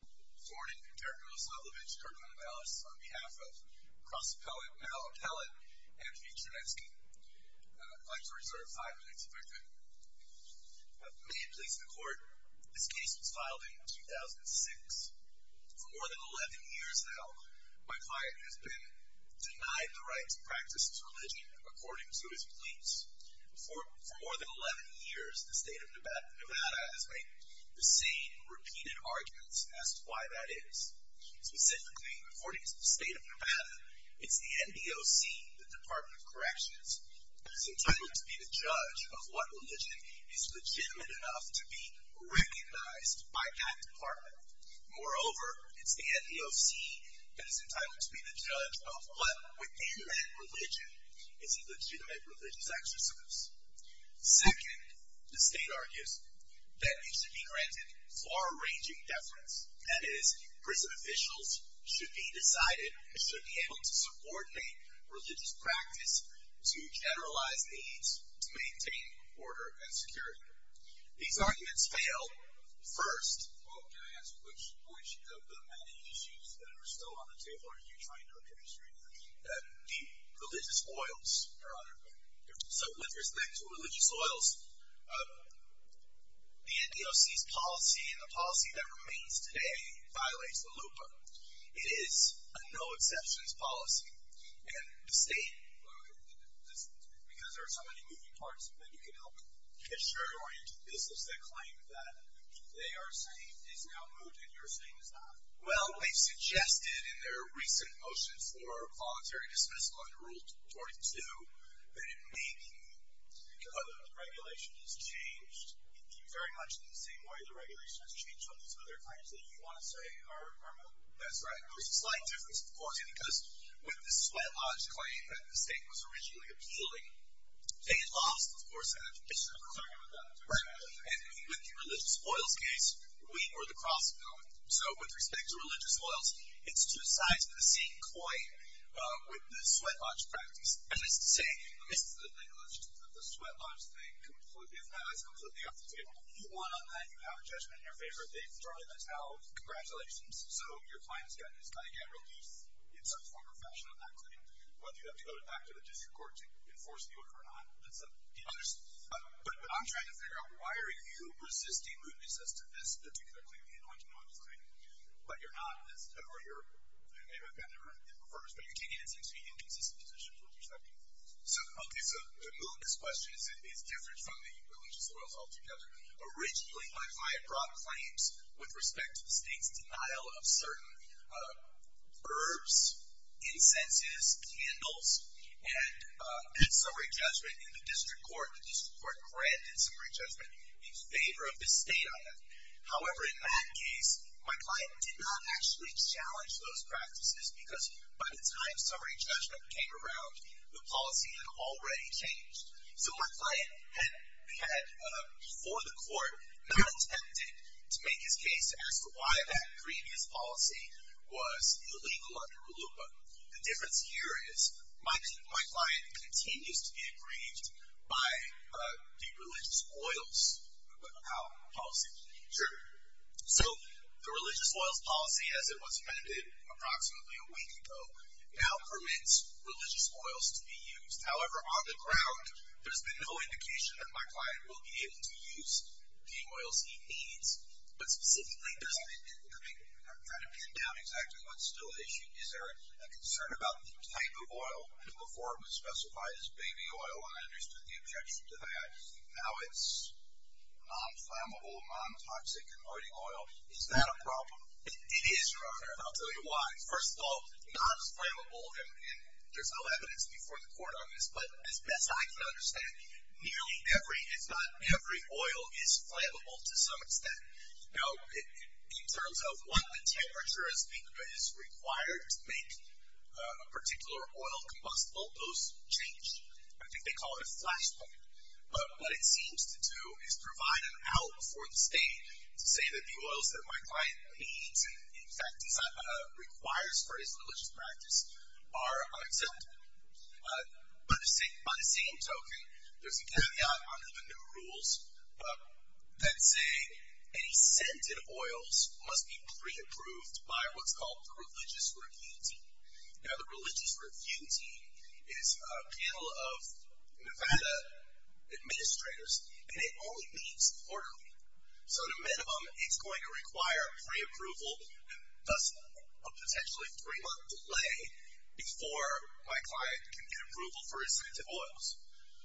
Thornton and Tereka O'Sullivage, Curriculum and Biologists, on behalf of cross-appellate Mal Appellate and V. Chernetsky. I'd like to reserve five minutes if I could. May it please the Court, this case was filed in 2006. For more than 11 years now, my client has been denied the right to practice his religion according to his pleas. For more than 11 years, the State of Nevada, it's the NDOC, the Department of Corrections, that is entitled to be the judge of what religion is legitimate enough to be recognized by that department. Moreover, it's the NDOC that is entitled to be the judge of what, within that religion, is a legitimate religious exorcism. Second, the State argues, that it should be granted far-ranging deference, that is, prison officials should be decided, should be able to subordinate religious practice to generalized needs to maintain order and security. These arguments fail first. Well, can I ask, which of the many issues that are still on the table are you trying to address right now? The religious oils, Your Honor. So, with respect to religious oils, the NDOC's policy and the policy that remains today violates the LUPA. It is a no-exceptions policy. And the State... Because there are so many moving parts, then you can help. It's shared-oriented businesses that claim that they are safe is now moved and you're saying it's not. Well, we've suggested in their recent motion for voluntary dismissal under Rule 22 that it may be that the regulation has changed, very much in the same way the regulation has changed on these other claims that you want to say are permanent. That's right. There's a slight difference, of course, because with the sweat lodge claim that the State was originally appealing, they lost, of course, and I'm sorry about that. Right. And with the religious oils case, we were the cross of no. So, with respect to religious oils, it's two sides of the same coin with the sweat lodge practice. And it's the same. The sweat lodge thing completely, if not is completely off the table. You won on that. You have a judgment in your favor. They've thrown in a towel of congratulations. So, your client's got to get relief in some form or fashion on that claim, whether you have to go back to the district court to enforce the order or not. But I'm trying to figure out, why are you resisting mootness as to this particular claim? I know I'm denying it, but you're not. Or maybe I've been there in the first, but you're taking it into inconsistent positions with respect to it. Okay. So, the mootness question is different from the religious oils altogether. Originally, my broad claims with respect to the State's denial of certain herbs, incenses, candles, and summary judgment in the district court. The district court granted summary judgment in favor of the State on that. However, in that case, my client did not actually challenge those practices because by the time summary judgment came around, the policy had already changed. So, my client had, before the court, not attempted to make his case as to why that previous policy was illegal under HULUPA. The difference here is, my client continues to be aggrieved by the religious oils policy. Sure. So, the religious oils policy, as it was amended approximately a week ago, now permits religious oils to be used. However, on the ground, there's been no indication that my client will be able to use the oils he needs. I'm trying to pin down exactly what's still at issue. Is there a concern about the type of oil before it was specified as baby oil? I understood the objection to that. Now it's non-flammable, non-toxic converting oil. Is that a problem? It is, Your Honor, and I'll tell you why. First of all, non-flammable, and there's no evidence before the court on this, but as best I can understand, nearly every, if not every, oil is flammable to some extent. Now, in terms of what the temperature is required to make a particular oil combustible, those change. I think they call it a flashpoint. But what it seems to do is provide an out for the state to say that the oils that my client needs, in fact, requires for his religious practice, are unacceptable. By the same token, there's a caveat under the new rules that say any scented oils must be pre-approved by what's called the religious review team. Now, the religious review team is a panel of Nevada administrators, and it only meets quarterly. So at a minimum, it's going to require pre-approval, thus a potentially three-month delay, before my client can get approval for his scented oils.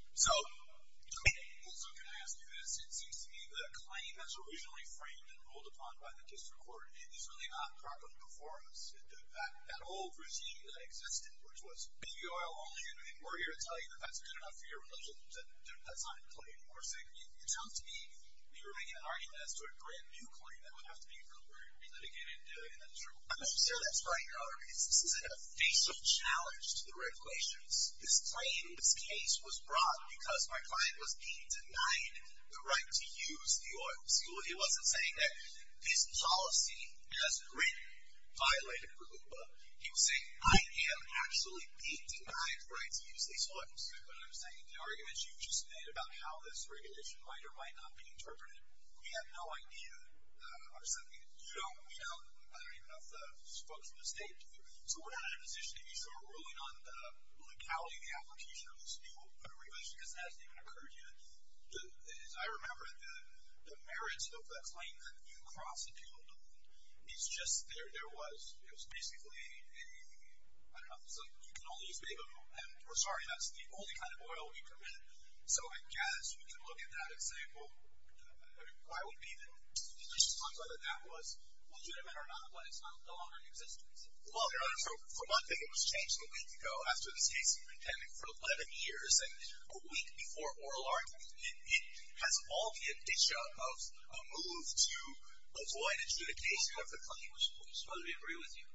Also, can I ask you this? It seems to me that a claim that's originally framed and ruled upon by the district court is really not proper performance. That old regime that existed, which was baby oil only, and we're here to tell you that that's good enough for your religion, that's not a claim. It sounds to me like you're making an argument as to a brand-new claim that would have to be re-litigated in the district court. I'm not sure that's right, Your Honor, because this is a facial challenge to the regulations. This claim, this case, was brought because my client was being denied the right to use the oils. He wasn't saying that his policy, as written, violated the HOOPA. He was saying, I am actually being denied the right to use these oils. You know what I'm saying? The arguments you just made about how this regulation might or might not be interpreted, we have no idea. You don't, I don't even know if the folks in the state do. So we're not in a position to be sort of ruling on the legality of the application of this new regulation, because it hasn't even occurred yet. I remember the merits of the claim that you prosecuted is just there was, it was basically a, I don't know, and we're sorry, that's the only kind of oil we permit. So I guess we can look at that and say, well, I mean, why would we even? You just talked about that that was legitimate or not, but it's no longer in existence. Well, Your Honor, for one thing, it was changed a week ago after this case even came in, for 11 years, and a week before oral argument. It has all the addition of a move to avoid adjudication of the claim. I suppose we agree with you,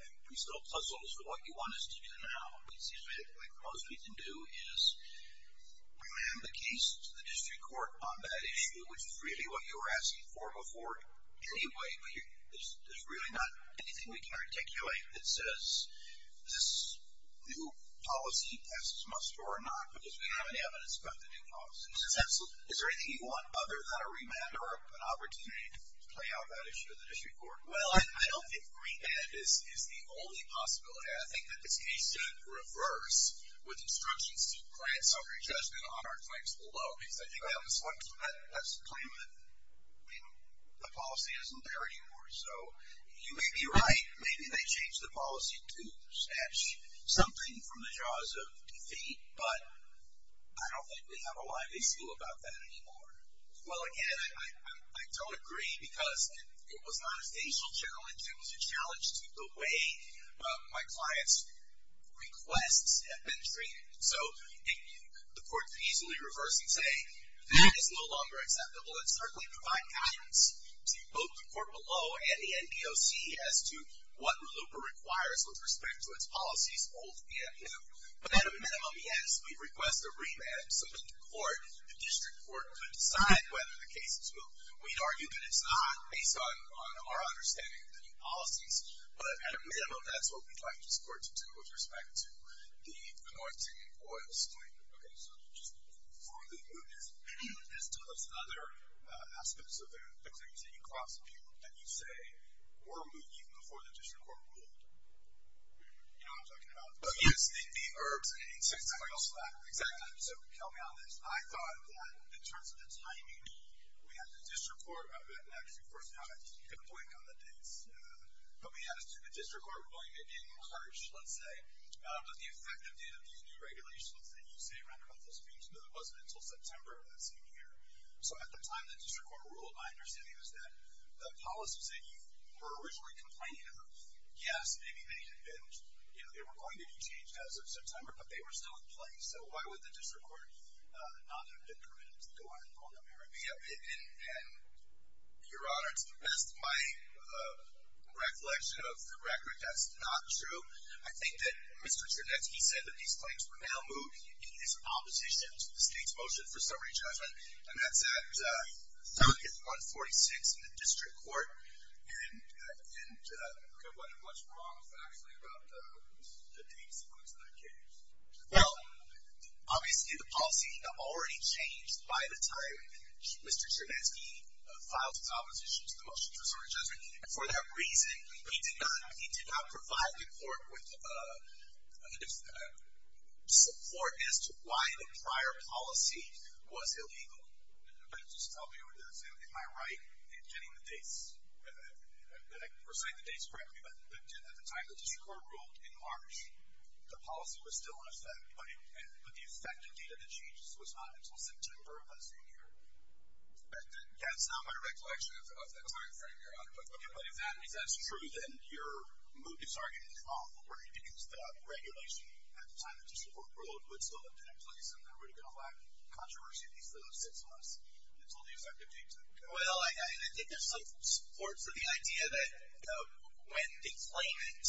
and we still puzzle as to what you want us to do now. It seems to me the most we can do is remand the case to the district court on that issue, which is really what you were asking for before anyway, but there's really not anything we can articulate that says this new policy passes must or not, because we don't have any evidence about the new policy. Is there anything you want other than a remand or an opportunity to play out that issue to the district court? Well, I don't think remand is the only possibility. I think that this case should reverse with instructions to grant summary judgment on our claims below, because I think that's the claim that the policy isn't there anymore. So you may be right. Maybe they changed the policy to snatch something from the jaws of defeat, but I don't think we have a live issue about that anymore. Well, again, I don't agree, because it was not a facial challenge. It was a challenge to the way my client's requests have been treated. So the court could easily reverse and say that is no longer acceptable. Let's certainly provide guidance to both the court below and the NBOC as to what RELOOPER requires with respect to its policies, but at a minimum, yes, we request a remand so that the court, the district court, could decide whether the case is moved. We'd argue that it's not, based on our understanding of the new policies, but at a minimum, that's what we'd like the district court to do with respect to the North Indian oil spill. Okay, so just formally, is there other aspects of the claims that you cross-review that you say were moved even before the district court ruled? You know what I'm talking about. Yes, the herbs and the insects and everything else like that. Exactly. So help me on this. I thought that, in terms of the timing, we had the district court, I've actually forgotten how to get a point on the dates, but we had a district court ruling in March, let's say, but the effective date of these new regulations that you say, Randolph, this means that it wasn't until September of that same year. So at the time the district court ruled, my understanding is that the policies that you were originally complaining of, yes, maybe they had been, you know, they were going to be changed as of September, but they were still in place. So why would the district court not have been permitted to go ahead and pull them here? Yeah, and Your Honor, to the best of my recollection of the record, that's not true. I think that Mr. Charnett, he said that these claims were now moved in his opposition to the state's motion for summary judgment, and that's at 146 in the district court, and there wasn't much wrong factually about the date sequence of that case. Well, obviously the policy had already changed by the time Mr. Charnett, he filed his opposition to the motion for summary judgment, and for that reason he did not provide the court with support as to why the prior policy was illegal. But just tell me, am I right in getting the dates, that I can recite the dates correctly, but at the time the district court ruled in March, the policy was still in effect, but the effective date of the changes was not until September of that same year. That's not my recollection of that time frame, Your Honor. Okay, but if that's true, then you're moving this argument in the wrong direction because the regulation at the time the district court ruled would still have been in place and there would have been a lack of controversy at least for those six months until the effective date took effect. Well, I think there's some support for the idea that when a claimant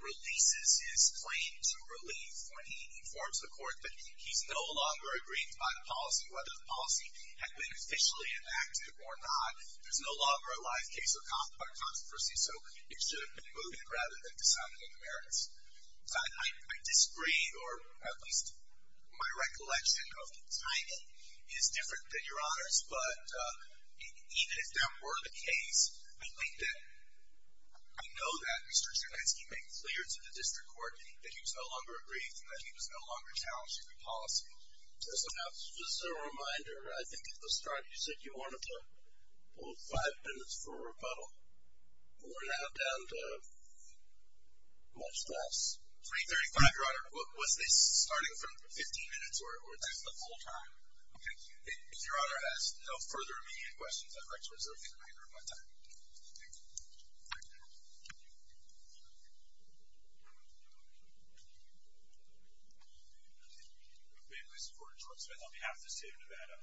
releases his claim to relief, when he informs the court that he's no longer aggrieved by the policy, whether the policy had been officially enacted or not, there's no longer a live case of controversy, so it should have been moved in rather than decided in the merits. I disagree, or at least my recollection of the timing is different than Your Honor's, but even if that were the case, I think that I know that Mr. Jankowski made clear to the district court that he was no longer aggrieved and that he was no longer challenged in the policy. Just a reminder, I think at the start you said you wanted to hold five minutes for a rebuttal. We're now down to much less. 335, Your Honor. Was this starting from 15 minutes or just the full time? Okay. If Your Honor has no further immediate questions, I'd like to reserve the remainder of my time. Thank you. Thank you. I'm faithfully supporting George Smith on behalf of the state of Nevada.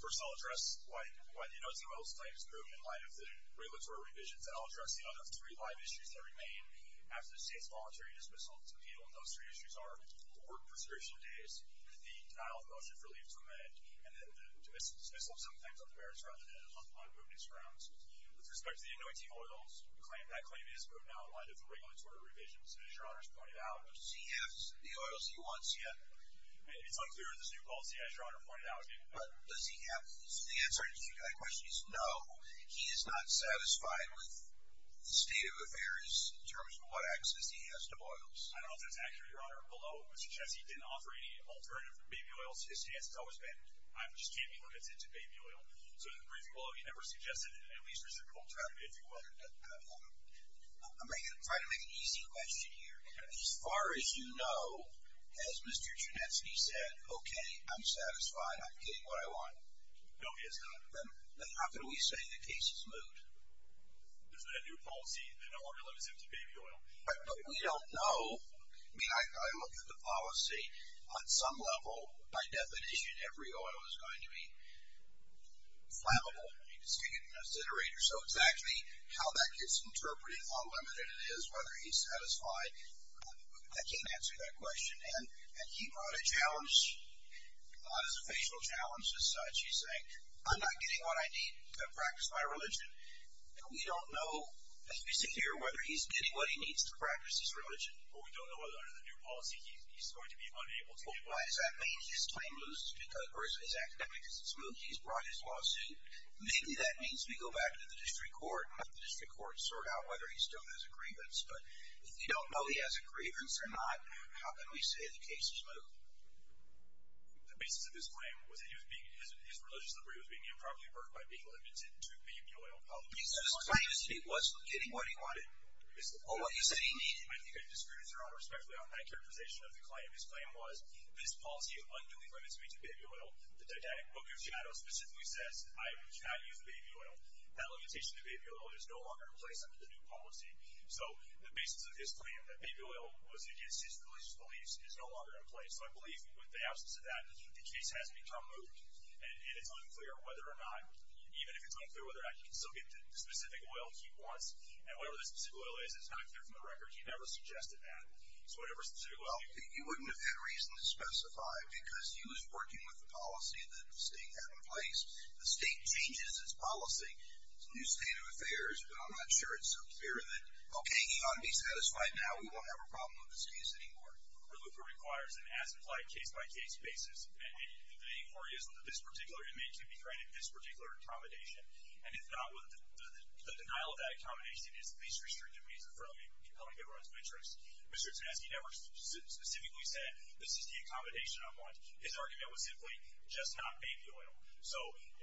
First, I'll address why the Inozi oil claim is approved in light of the regulatory revisions, and I'll address the other three live issues that remain after the state's voluntary dismissal. Those three issues are the work preservation days, the denial of the motion for relief to amend, and the dismissal of some things on the merits rather than on the moving grounds. With respect to the Inozi oils, that claim is approved now in light of the regulatory revisions, as Your Honor has pointed out. Does he have the oils he wants yet? It's unclear in this new policy, as Your Honor pointed out. But does he have, the answer to that question is no. He is not satisfied with the state of affairs in terms of what access he has to oils. I don't know if that's accurate, Your Honor. Below, Mr. Chessie didn't offer any alternative baby oils. His stance has always been, I just can't be limited to baby oil. So, in the briefing below, he never suggested an at least reciprocal alternative. I'm going to try to make an easy question here. As far as you know, has Mr. Chessie said, okay, I'm satisfied, I'm getting what I want? No, he has not. Then how can we say the case is moved? Because of that new policy that no longer limits him to baby oil. But we don't know. I mean, I look at the policy. On some level, by definition, every oil is going to be flammable. You can stick it in an incinerator. So, it's actually how that gets interpreted, how limited it is, whether he's satisfied. I can't answer that question. And he brought a challenge, not as a facial challenge, as such. He's saying, I'm not getting what I need to practice my religion. And we don't know, as we see here, whether he's getting what he needs to practice his religion. But we don't know whether, under the new policy, he's going to be unable to get what he needs. Well, why does that mean his claim loses, or his academicism is moved? He's brought his lawsuit. Maybe that means we go back to the district court and have the district court sort out whether he still has a grievance. But if you don't know he has a grievance or not, how can we say the case is moved? The basis of his claim was that his religious liberty was being improperly hurt by being limited to baby oil. I think I've disproved your honor, respectfully, on that characterization of the claim. His claim was, this policy unduly limits me to baby oil. The Didactic Book of Shadows specifically says I cannot use baby oil. That limitation to baby oil is no longer in place under the new policy. So, the basis of his claim, that baby oil was against his religious beliefs, is no longer in place. So, I believe, with the absence of that, the case has become moved. And it's unclear whether or not, even if it's unclear whether or not he can still get the specific oil he wants. And whatever this specific oil is, it's not clear from the record. He never suggested that. So, whatever specific oil he wants. Well, you wouldn't have had reason to specify, because he was working with the policy that the state had in place. The state changes its policy. It's a new state of affairs, but I'm not sure it's so clear that, okay, he ought to be satisfied now. We won't have a problem with this case anymore. A removal requires an as-implied, case-by-case basis. The authority is that this particular inmate can be granted this particular accommodation. And if not, the denial of that accommodation is the least restrictive reason for compelling everyone's interest. Mr. Tansky never specifically said, this is the accommodation I want. His argument was simply, just not baby oil. So,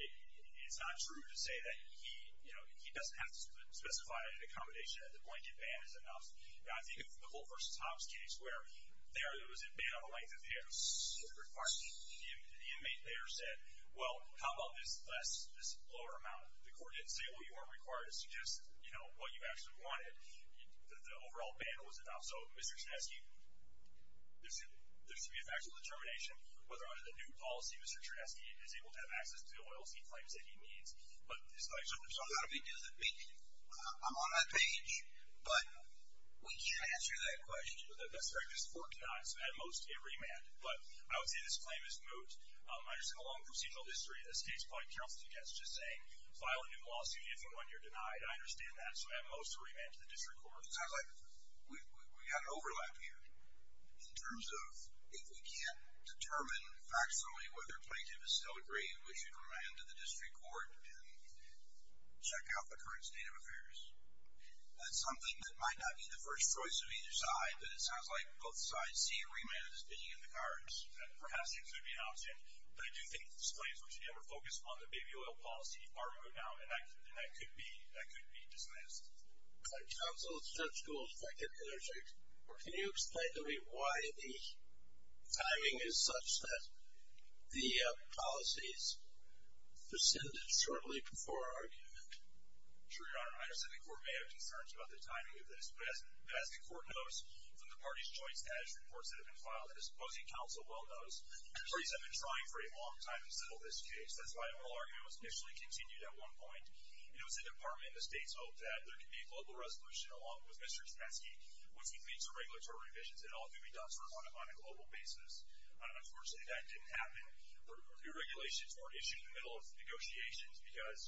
it's not true to say that he, you know, he doesn't have to specify an accommodation. At the point, a ban is enough. Now, I think if the Holt v. Hobbs case, where there was a ban on the length of hair, the inmate there said, well, how about this less, this lower amount? The court didn't say, well, you aren't required to suggest, you know, what you actually wanted. The overall ban was enough. So, Mr. Tansky, there should be a factual determination whether under the new policy, Mr. Ternesky is able to have access to the oils he claims that he needs. But, it's like. I'm on that page, but we can't answer that question. That's correct. This court denied. So, at most, it remanded. But, I would say this claim is moot. I understand the long procedural history. The state's probably careful to suggest just saying, file a new lawsuit if and when you're denied. I understand that. So, at most, it remanded to the district court. It sounds like we've got an overlap here. In terms of, if we can't determine factually whether plaintiff is still agreeing, we should remand to the district court and check out the current state of affairs. That's something that might not be the first choice of either side. But, it sounds like both sides see a remand as being in the cards. Perhaps it could be an option. But, I do think this claim is what should be our focus on the baby oil policy. Part of it now. And, that could be dismissed. Counsel, Judge Gould. If I could have another second. Can you explain to me why the timing is such that the policies descended shortly before our argument? Sure, Your Honor. I understand the court may have concerns about the timing of this. But, as the court knows from the parties' joint status reports that have been filed, and the opposing counsel well knows, the parties have been trying for a long time to settle this case. That's why our argument was initially continued at one point. It was the department and the state's hope that there could be a global resolution, along with Mr. Chepetsky, which would lead to regulatory revisions. It all could be done sort of on a global basis. Unfortunately, that didn't happen. The regulations weren't issued in the middle of negotiations because,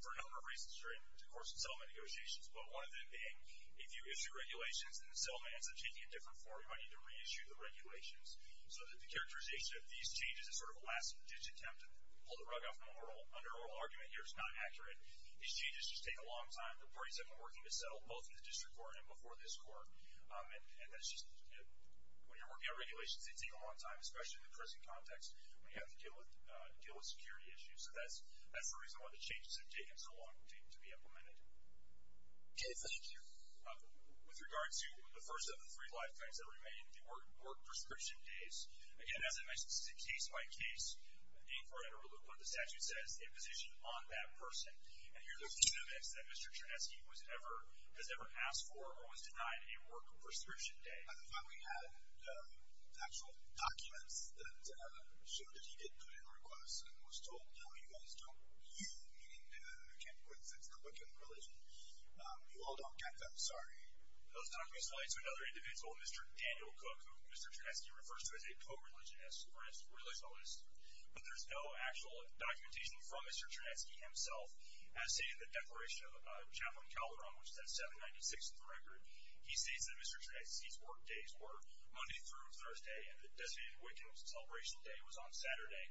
for a number of reasons during the course of settlement negotiations, but one of them being if you issue regulations and the settlement ends up taking a different form, you might need to reissue the regulations. So, the characterization of these changes is sort of a last-ditch attempt to pull the rug out from under oral argument here. It's not accurate. These changes just take a long time. The parties have been working to settle both in the district court and before this court. And, when you're working on regulations, they take a long time, especially in the prison context when you have to deal with security issues. So, that's the reason why the changes have taken so long to be implemented. Okay, thank you. With regard to the first of the three lifetimes that remain, the work prescription days, again, as I mentioned, this is a case-by-case inquiry. The statute says a position on that person. And here's the evidence that Mr. Chepetsky has ever asked for or was denied a work prescription day. And, finally, we have the actual documents that show that he did put in requests and was told, no, you guys don't believe in the Ken Quincey Republican religion. You all don't get them. Sorry. Those documents lead to another indivisible, Mr. Daniel Cook, who Mr. Chepetsky refers to as a co-religionist or a religionalist. But there's no actual documentation from Mr. Chepetsky himself. As stated in the Declaration of Chaplain Calderon, which is at 796th record, he states that Mr. Chepetsky's work days were Monday through Thursday, and the designated Wiccan celebration day was on Saturday.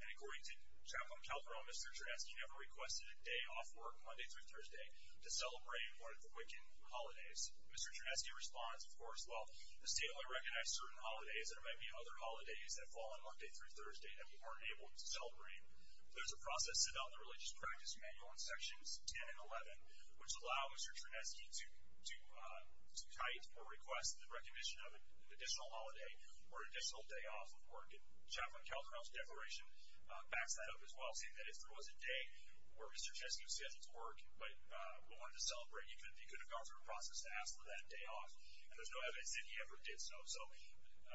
And according to Chaplain Calderon, Mr. Chepetsky never requested a day off work, Monday through Thursday, to celebrate one of the Wiccan holidays. Mr. Chepetsky responds, of course, well, the state only recognized certain holidays. There might be other holidays that fall on Monday through Thursday that we weren't able to celebrate. There's a process set out in the Religious Practice Manual in Sections 10 and 11, which allow Mr. Chepetsky to type or request the recognition of an additional holiday or additional day off of work. And Chaplain Calderon's declaration backs that up as well, saying that if there was a day where Mr. Chepetsky was scheduled to work, but we wanted to celebrate, he could have gone through a process to ask for that day off. And there's no evidence that he ever did so. So,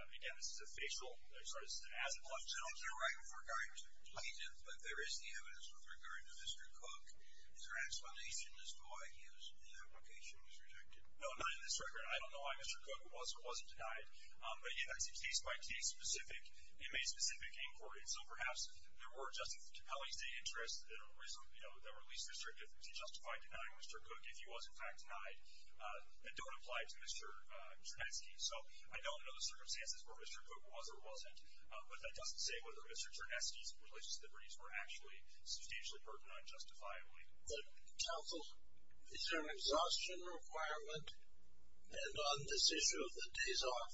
again, this is a facial, I'm sorry, this is an as-it-was. I don't know if you're right with regard to the plaintiff, but there is the evidence with regard to Mr. Cook. Is there an explanation as to why the application was rejected? No, not in this record. I don't know why Mr. Cook was or wasn't denied. But, again, that's a case-by-case, specific, inmate-specific inquiry. So perhaps there were Justice Capelli's day interests that were least restrictive to justify denying Mr. Cook if he was, in fact, denied, that don't apply to Mr. Chepetsky. So I don't know the circumstances where Mr. Cook was or wasn't, but that doesn't say whether Mr. Chernesky's religious liberties were actually substantially burdened unjustifiably. Counsel, is there an exhaustion requirement? And on this issue of the days off,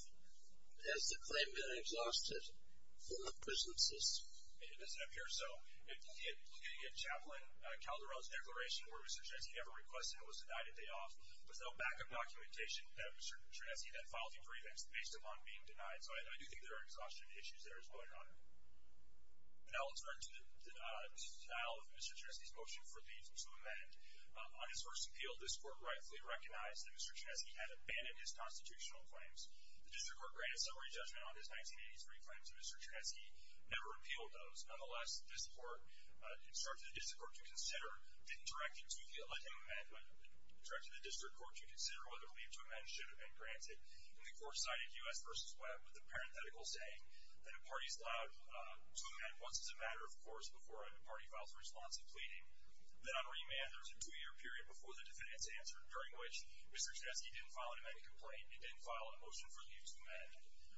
has the claim been exhausted from the presences? It doesn't appear so. If you look at Chaplain Calderon's declaration, where Mr. Chernesky never requested it was denied a day off, there's no backup documentation that Mr. Chernesky then filed in prevention based upon being denied. So I do think there are exhaustion issues there as well, Your Honor. Now let's turn to the style of Mr. Chernesky's motion for leave to amend. On his first appeal, this court rightfully recognized that Mr. Chernesky had abandoned his constitutional claims. The district court granted summary judgment on his 1983 claims, and Mr. Chernesky never appealed those. Nonetheless, this court instructed the district court to consider whether leave to amend should have been granted. And the court cited U.S. v. Webb with a parenthetical saying that a party is allowed to amend once as a matter of course before a party files a response of pleading. Then on remand, there's a two-year period before the defendant's answer, during which Mr. Chernesky didn't file an amended complaint and didn't file a motion for leave to amend.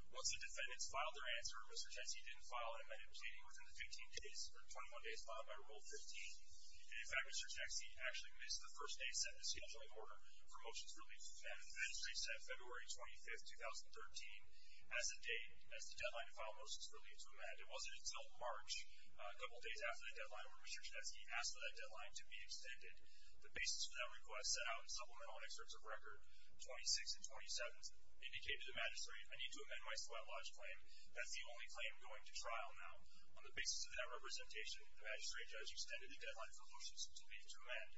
Once the defendants filed their answer, Mr. Chernesky didn't file an amended pleading within the 15 days or 21 days followed by Rule 15. And, in fact, Mr. Chernesky actually missed the first day set in the scheduling order for motions for leave to amend. And the magistrate said February 25, 2013, as the date, as the deadline to file motions for leave to amend. It wasn't until March, a couple days after that deadline, when Mr. Chernesky asked for that deadline to be extended. The basis for that request set out in supplemental excerpts of Record 26 and 27 indicated to the magistrate, I need to amend my sweat lodge claim. That's the only claim going to trial now. On the basis of that representation, the magistrate judge extended the deadline for motions for leave to amend.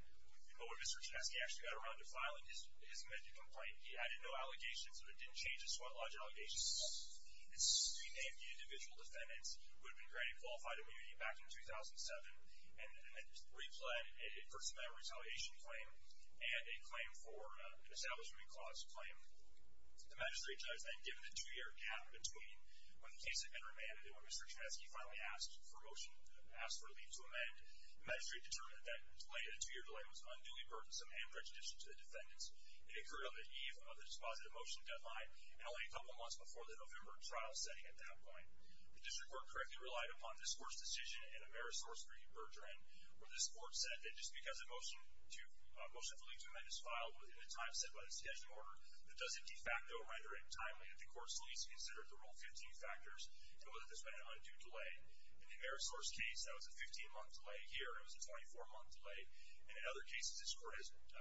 But when Mr. Chernesky actually got around to filing his amended complaint, he added no allegations, so it didn't change his sweat lodge allegations at all. It renamed the individual defendants who had been granted qualified immunity back in 2007 and then re-planned a personnel retaliation claim and a claim for an establishment clause claim. The magistrate judge then, given the two-year gap between when the case had been remanded the magistrate determined that delaying the two-year delay was unduly burdensome and prejudicial to the defendants. It occurred on the eve of the dispositive motion deadline and only a couple of months before the November trial setting at that point. The district court correctly relied upon this court's decision and Amerisource 3 Bergeron where this court said that just because a motion for leave to amend is filed within a time set by the scheduling order, that doesn't de facto render it timely that the court's lease considered the Rule 15 factors and whether there's been an undue delay. In the Amerisource case, that was a 15-month delay. Here, it was a 24-month delay. And in other cases, this court has appealed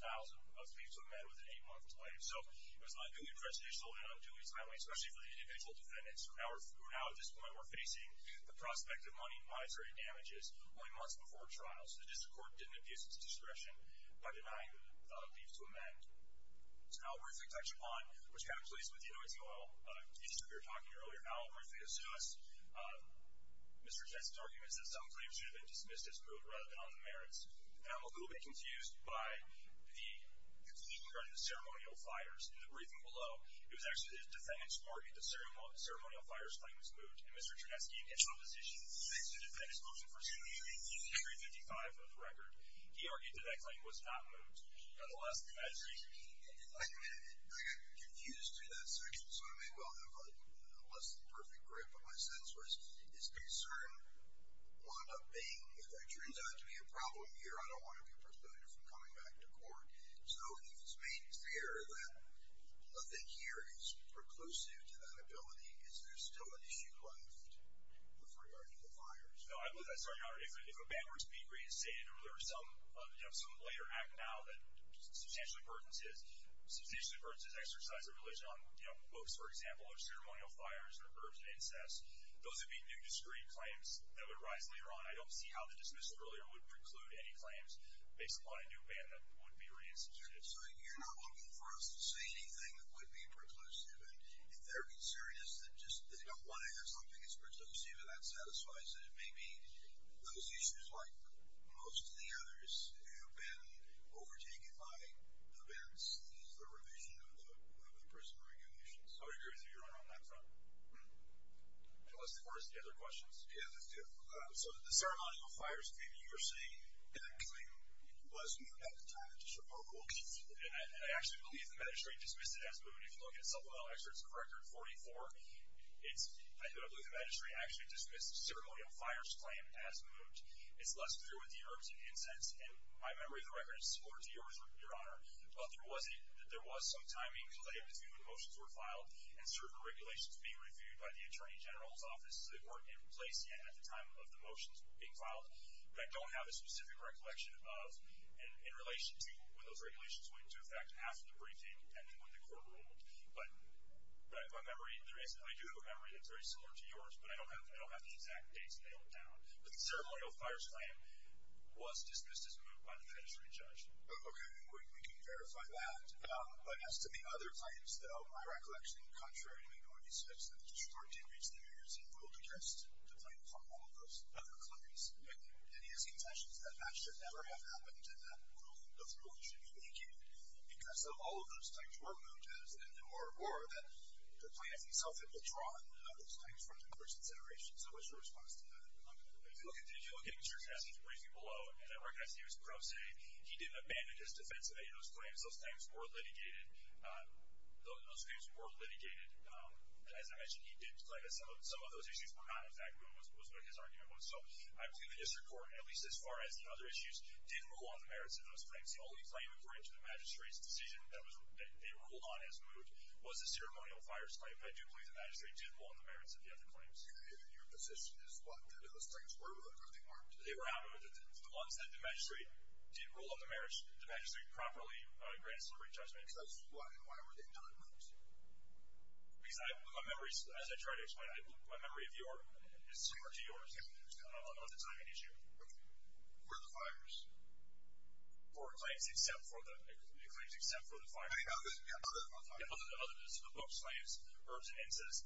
files of leave to amend with an 8-month delay. So it was unduly prejudicial and unduly timely, especially for the individual defendants who now at this point were facing the prospect of money, misery, and damages only months before trial. So the district court didn't abuse its discretion by denying the leave to amend. So now we're going to touch upon what's happened with the OITOL issue we were talking about earlier. I'll briefly assume Mr. Chernesky's argument is that some claims should have been dismissed as moot rather than on the merits. And I'm a little bit confused by the plea regarding the ceremonial fires. In the briefing below, it was actually the defendant's court that the ceremonial fires claim was moot. And Mr. Chernesky, in his opposition to the defendant's motion for leave, he agreed to D-5 of the record. He argued that that claim was not moot. I got confused through that section. So maybe I'll have a less than perfect grip. But my sense was his concern wound up being, if there turns out to be a problem here, I don't want to be precluded from coming back to court. So if it's made clear that nothing here is preclusive to that ability, is there still an issue left with regard to the fires? No, I'm sorry, Your Honor. If a ban were to be reinstated or there were some later act now that substantially burdens his exercise of religion on books, for example, or ceremonial fires or verbs of incest, those would be new, discrete claims that would arise later on. I don't see how the dismissal earlier would preclude any claims based upon a new ban that would be reinstated. So you're not looking for us to say anything that would be preclusive. And if their concern is that just they don't want to hear something that's preclusive, and that satisfies it, it may be those issues like most of the others who have been overtaken by the bans, the revision of the prison regulations. I would agree with you, Your Honor, on that front. Let's defer to the other questions. Yeah, let's do it. So the ceremonial fires claim you were saying, that claim was new at the time. It's a provable claim. And I actually believe the magistrate dismissed it as new. And if you look at supplemental excerpts of Record 44, I believe the magistrate actually dismissed the ceremonial fires claim as moved. It's less clear with the verbs of incest. And my memory of the record is similar to yours, Your Honor. But there was some timing, so that you could see when motions were filed and certain regulations being reviewed by the Attorney General's Office that weren't in place yet at the time of the motions being filed, but I don't have a specific recollection of in relation to when those regulations went into effect after the briefing and then when the court ruled. But my memory, I do have a memory that's very similar to yours, but I don't have the exact dates nailed down. But the ceremonial fires claim was dismissed as moved by the magistrate judge. Okay, we can verify that. But as to the other claims, though, my recollection, contrary to minority speech, that the District Court did reach the emergency rule to cast the claim upon all of those other claims. And he has contention that that should never have happened and that rule, the rule should be weakened because if all of those claims were moved, or that the plaintiff himself had withdrawn those claims from the court's consideration. So what's your response to that? If you look at Mr. Cassidy's briefing below, and I recognize he was pro se, he didn't abandon his defense of any of those claims. Those claims were litigated. Those claims were litigated. As I mentioned, he did claim that some of those issues were not exactly what his argument was. So I believe the District Court, at least as far as the other issues, didn't rule on the merits of those claims. The only claim according to the magistrate's decision that they ruled on as moved was the ceremonial fires claim. But I do believe the magistrate did rule on the merits of the other claims. Your position is what? That those claims were moved or they weren't? They were not moved. The ones that the magistrate did rule on the merits, the magistrate properly granted deliberate judgment. That's why. Why were they not moved? Because my memories, as I tried to explain, my memory of yours is similar to yours. I don't know if that's an issue. Where are the fires? For the claims except for the fires. Yeah, other than the fires. Other than the books, slaves, herbs, and incense.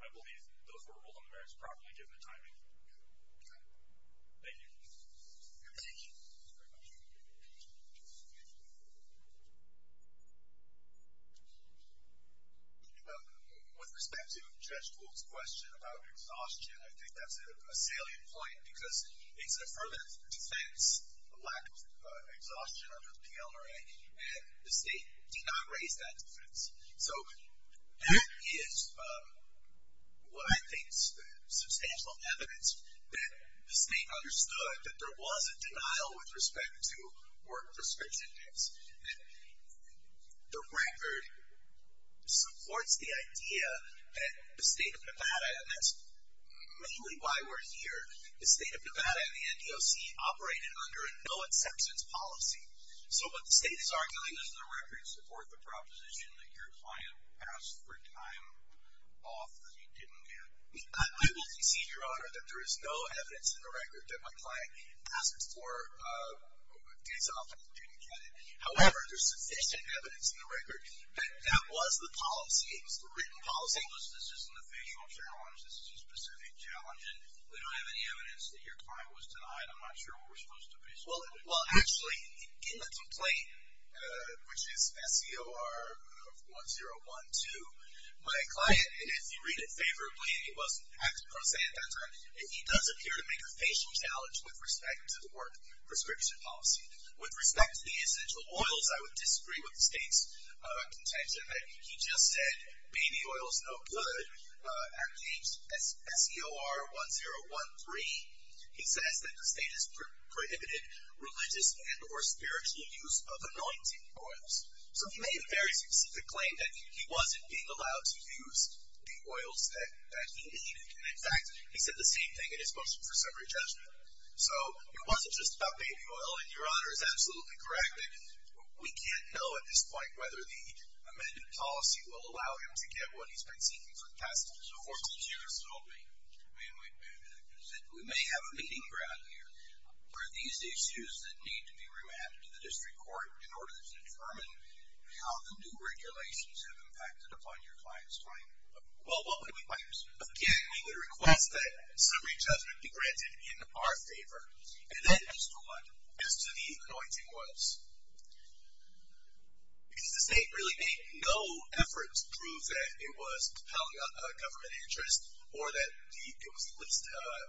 I believe those were ruled on the merits properly given the timing. Okay. Thank you. Thank you. Thank you very much. With respect to Judge Gould's question about exhaustion, I think that's a salient point because it's an affirmative defense, a lack of exhaustion under the PLRA, and the state did not raise that defense. So that is what I think is substantial evidence that the state understood that there was a denial with respect to work prescription dates. And the record supports the idea that the state of Nevada, and that's mainly why we're here, the state of Nevada and the NDOC operated under a no-acceptance policy. So what the state is arguing is the record supports the proposition that your client asked for time off that he didn't get. I will cease your honor that there is no evidence in the record that my client asked for days off and didn't get it. However, there's sufficient evidence in the record that that was the policy. The written policy was this isn't a facial challenge, this is a specific challenge, and we don't have any evidence that your client was denied. I'm not sure what we're supposed to be. Well, actually, in the complaint, which is SCOR 1012, my client, if you read it favorably, and he wasn't acting pro se at that time, he does appear to make a facial challenge with respect to the work prescription policy. With respect to the essential oils, I would disagree with the state's contention. He just said baby oil is no good at SCOR 1013. He says that the state has prohibited religious and or spiritual use of anointing oils. So he made a very specific claim that he wasn't being allowed to use the oils that he needed, and, in fact, he said the same thing in his motion for summary judgment. So it wasn't just about baby oil, and your honor is absolutely correct that we can't know at this point whether the amended policy will allow him to get what he's been seeking for the past 14 years. So what would you have told me? I mean, we may have a meeting ground here. Were these issues that need to be remanded to the district court in order to determine how the new regulations have impacted upon your client's claim? Well, again, we would request that summary judgment be granted in our favor. And then, just one, as to the anointing oils. Because the state really made no effort to prove that it was compelling a government interest or that it was the least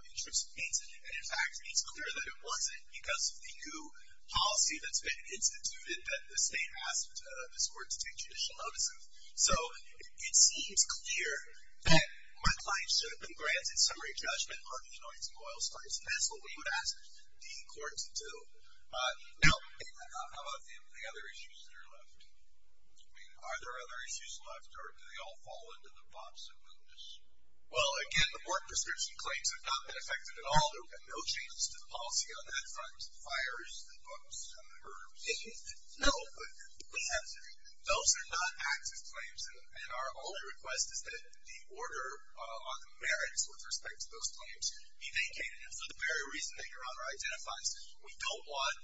intrusive means, and, in fact, it's clear that it wasn't because of the new policy that's been instituted that the state asked the court to take judicial notice of. So it seems clear that my client should have been granted summary judgment on the anointing oils. And that's what we would ask the court to do. Now, how about the other issues that are left? I mean, are there other issues left, or do they all fall into the box of goodness? Well, again, the board prescription claims have not been affected at all. There have been no changes to the policy on that front, the fires, the books, and the herbs. No, but those are not active claims. And our only request is that the order on the merits with respect to those be communicated. And for the very reason that Your Honor identifies, we don't want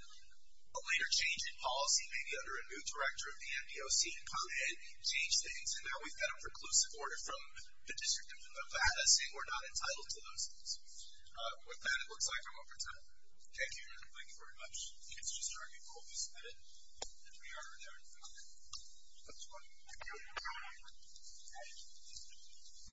a later change in policy, maybe under a new director of the NPOC to come ahead and change things. And now we've got a preclusive order from the District of Nevada saying we're not entitled to those things. With that, it looks like I'm up for time. Thank you, Your Honor. Thank you very much. I think it's just a very good call to submit it. And we are adjourned for the day. That's fine. Thank you. Thank you.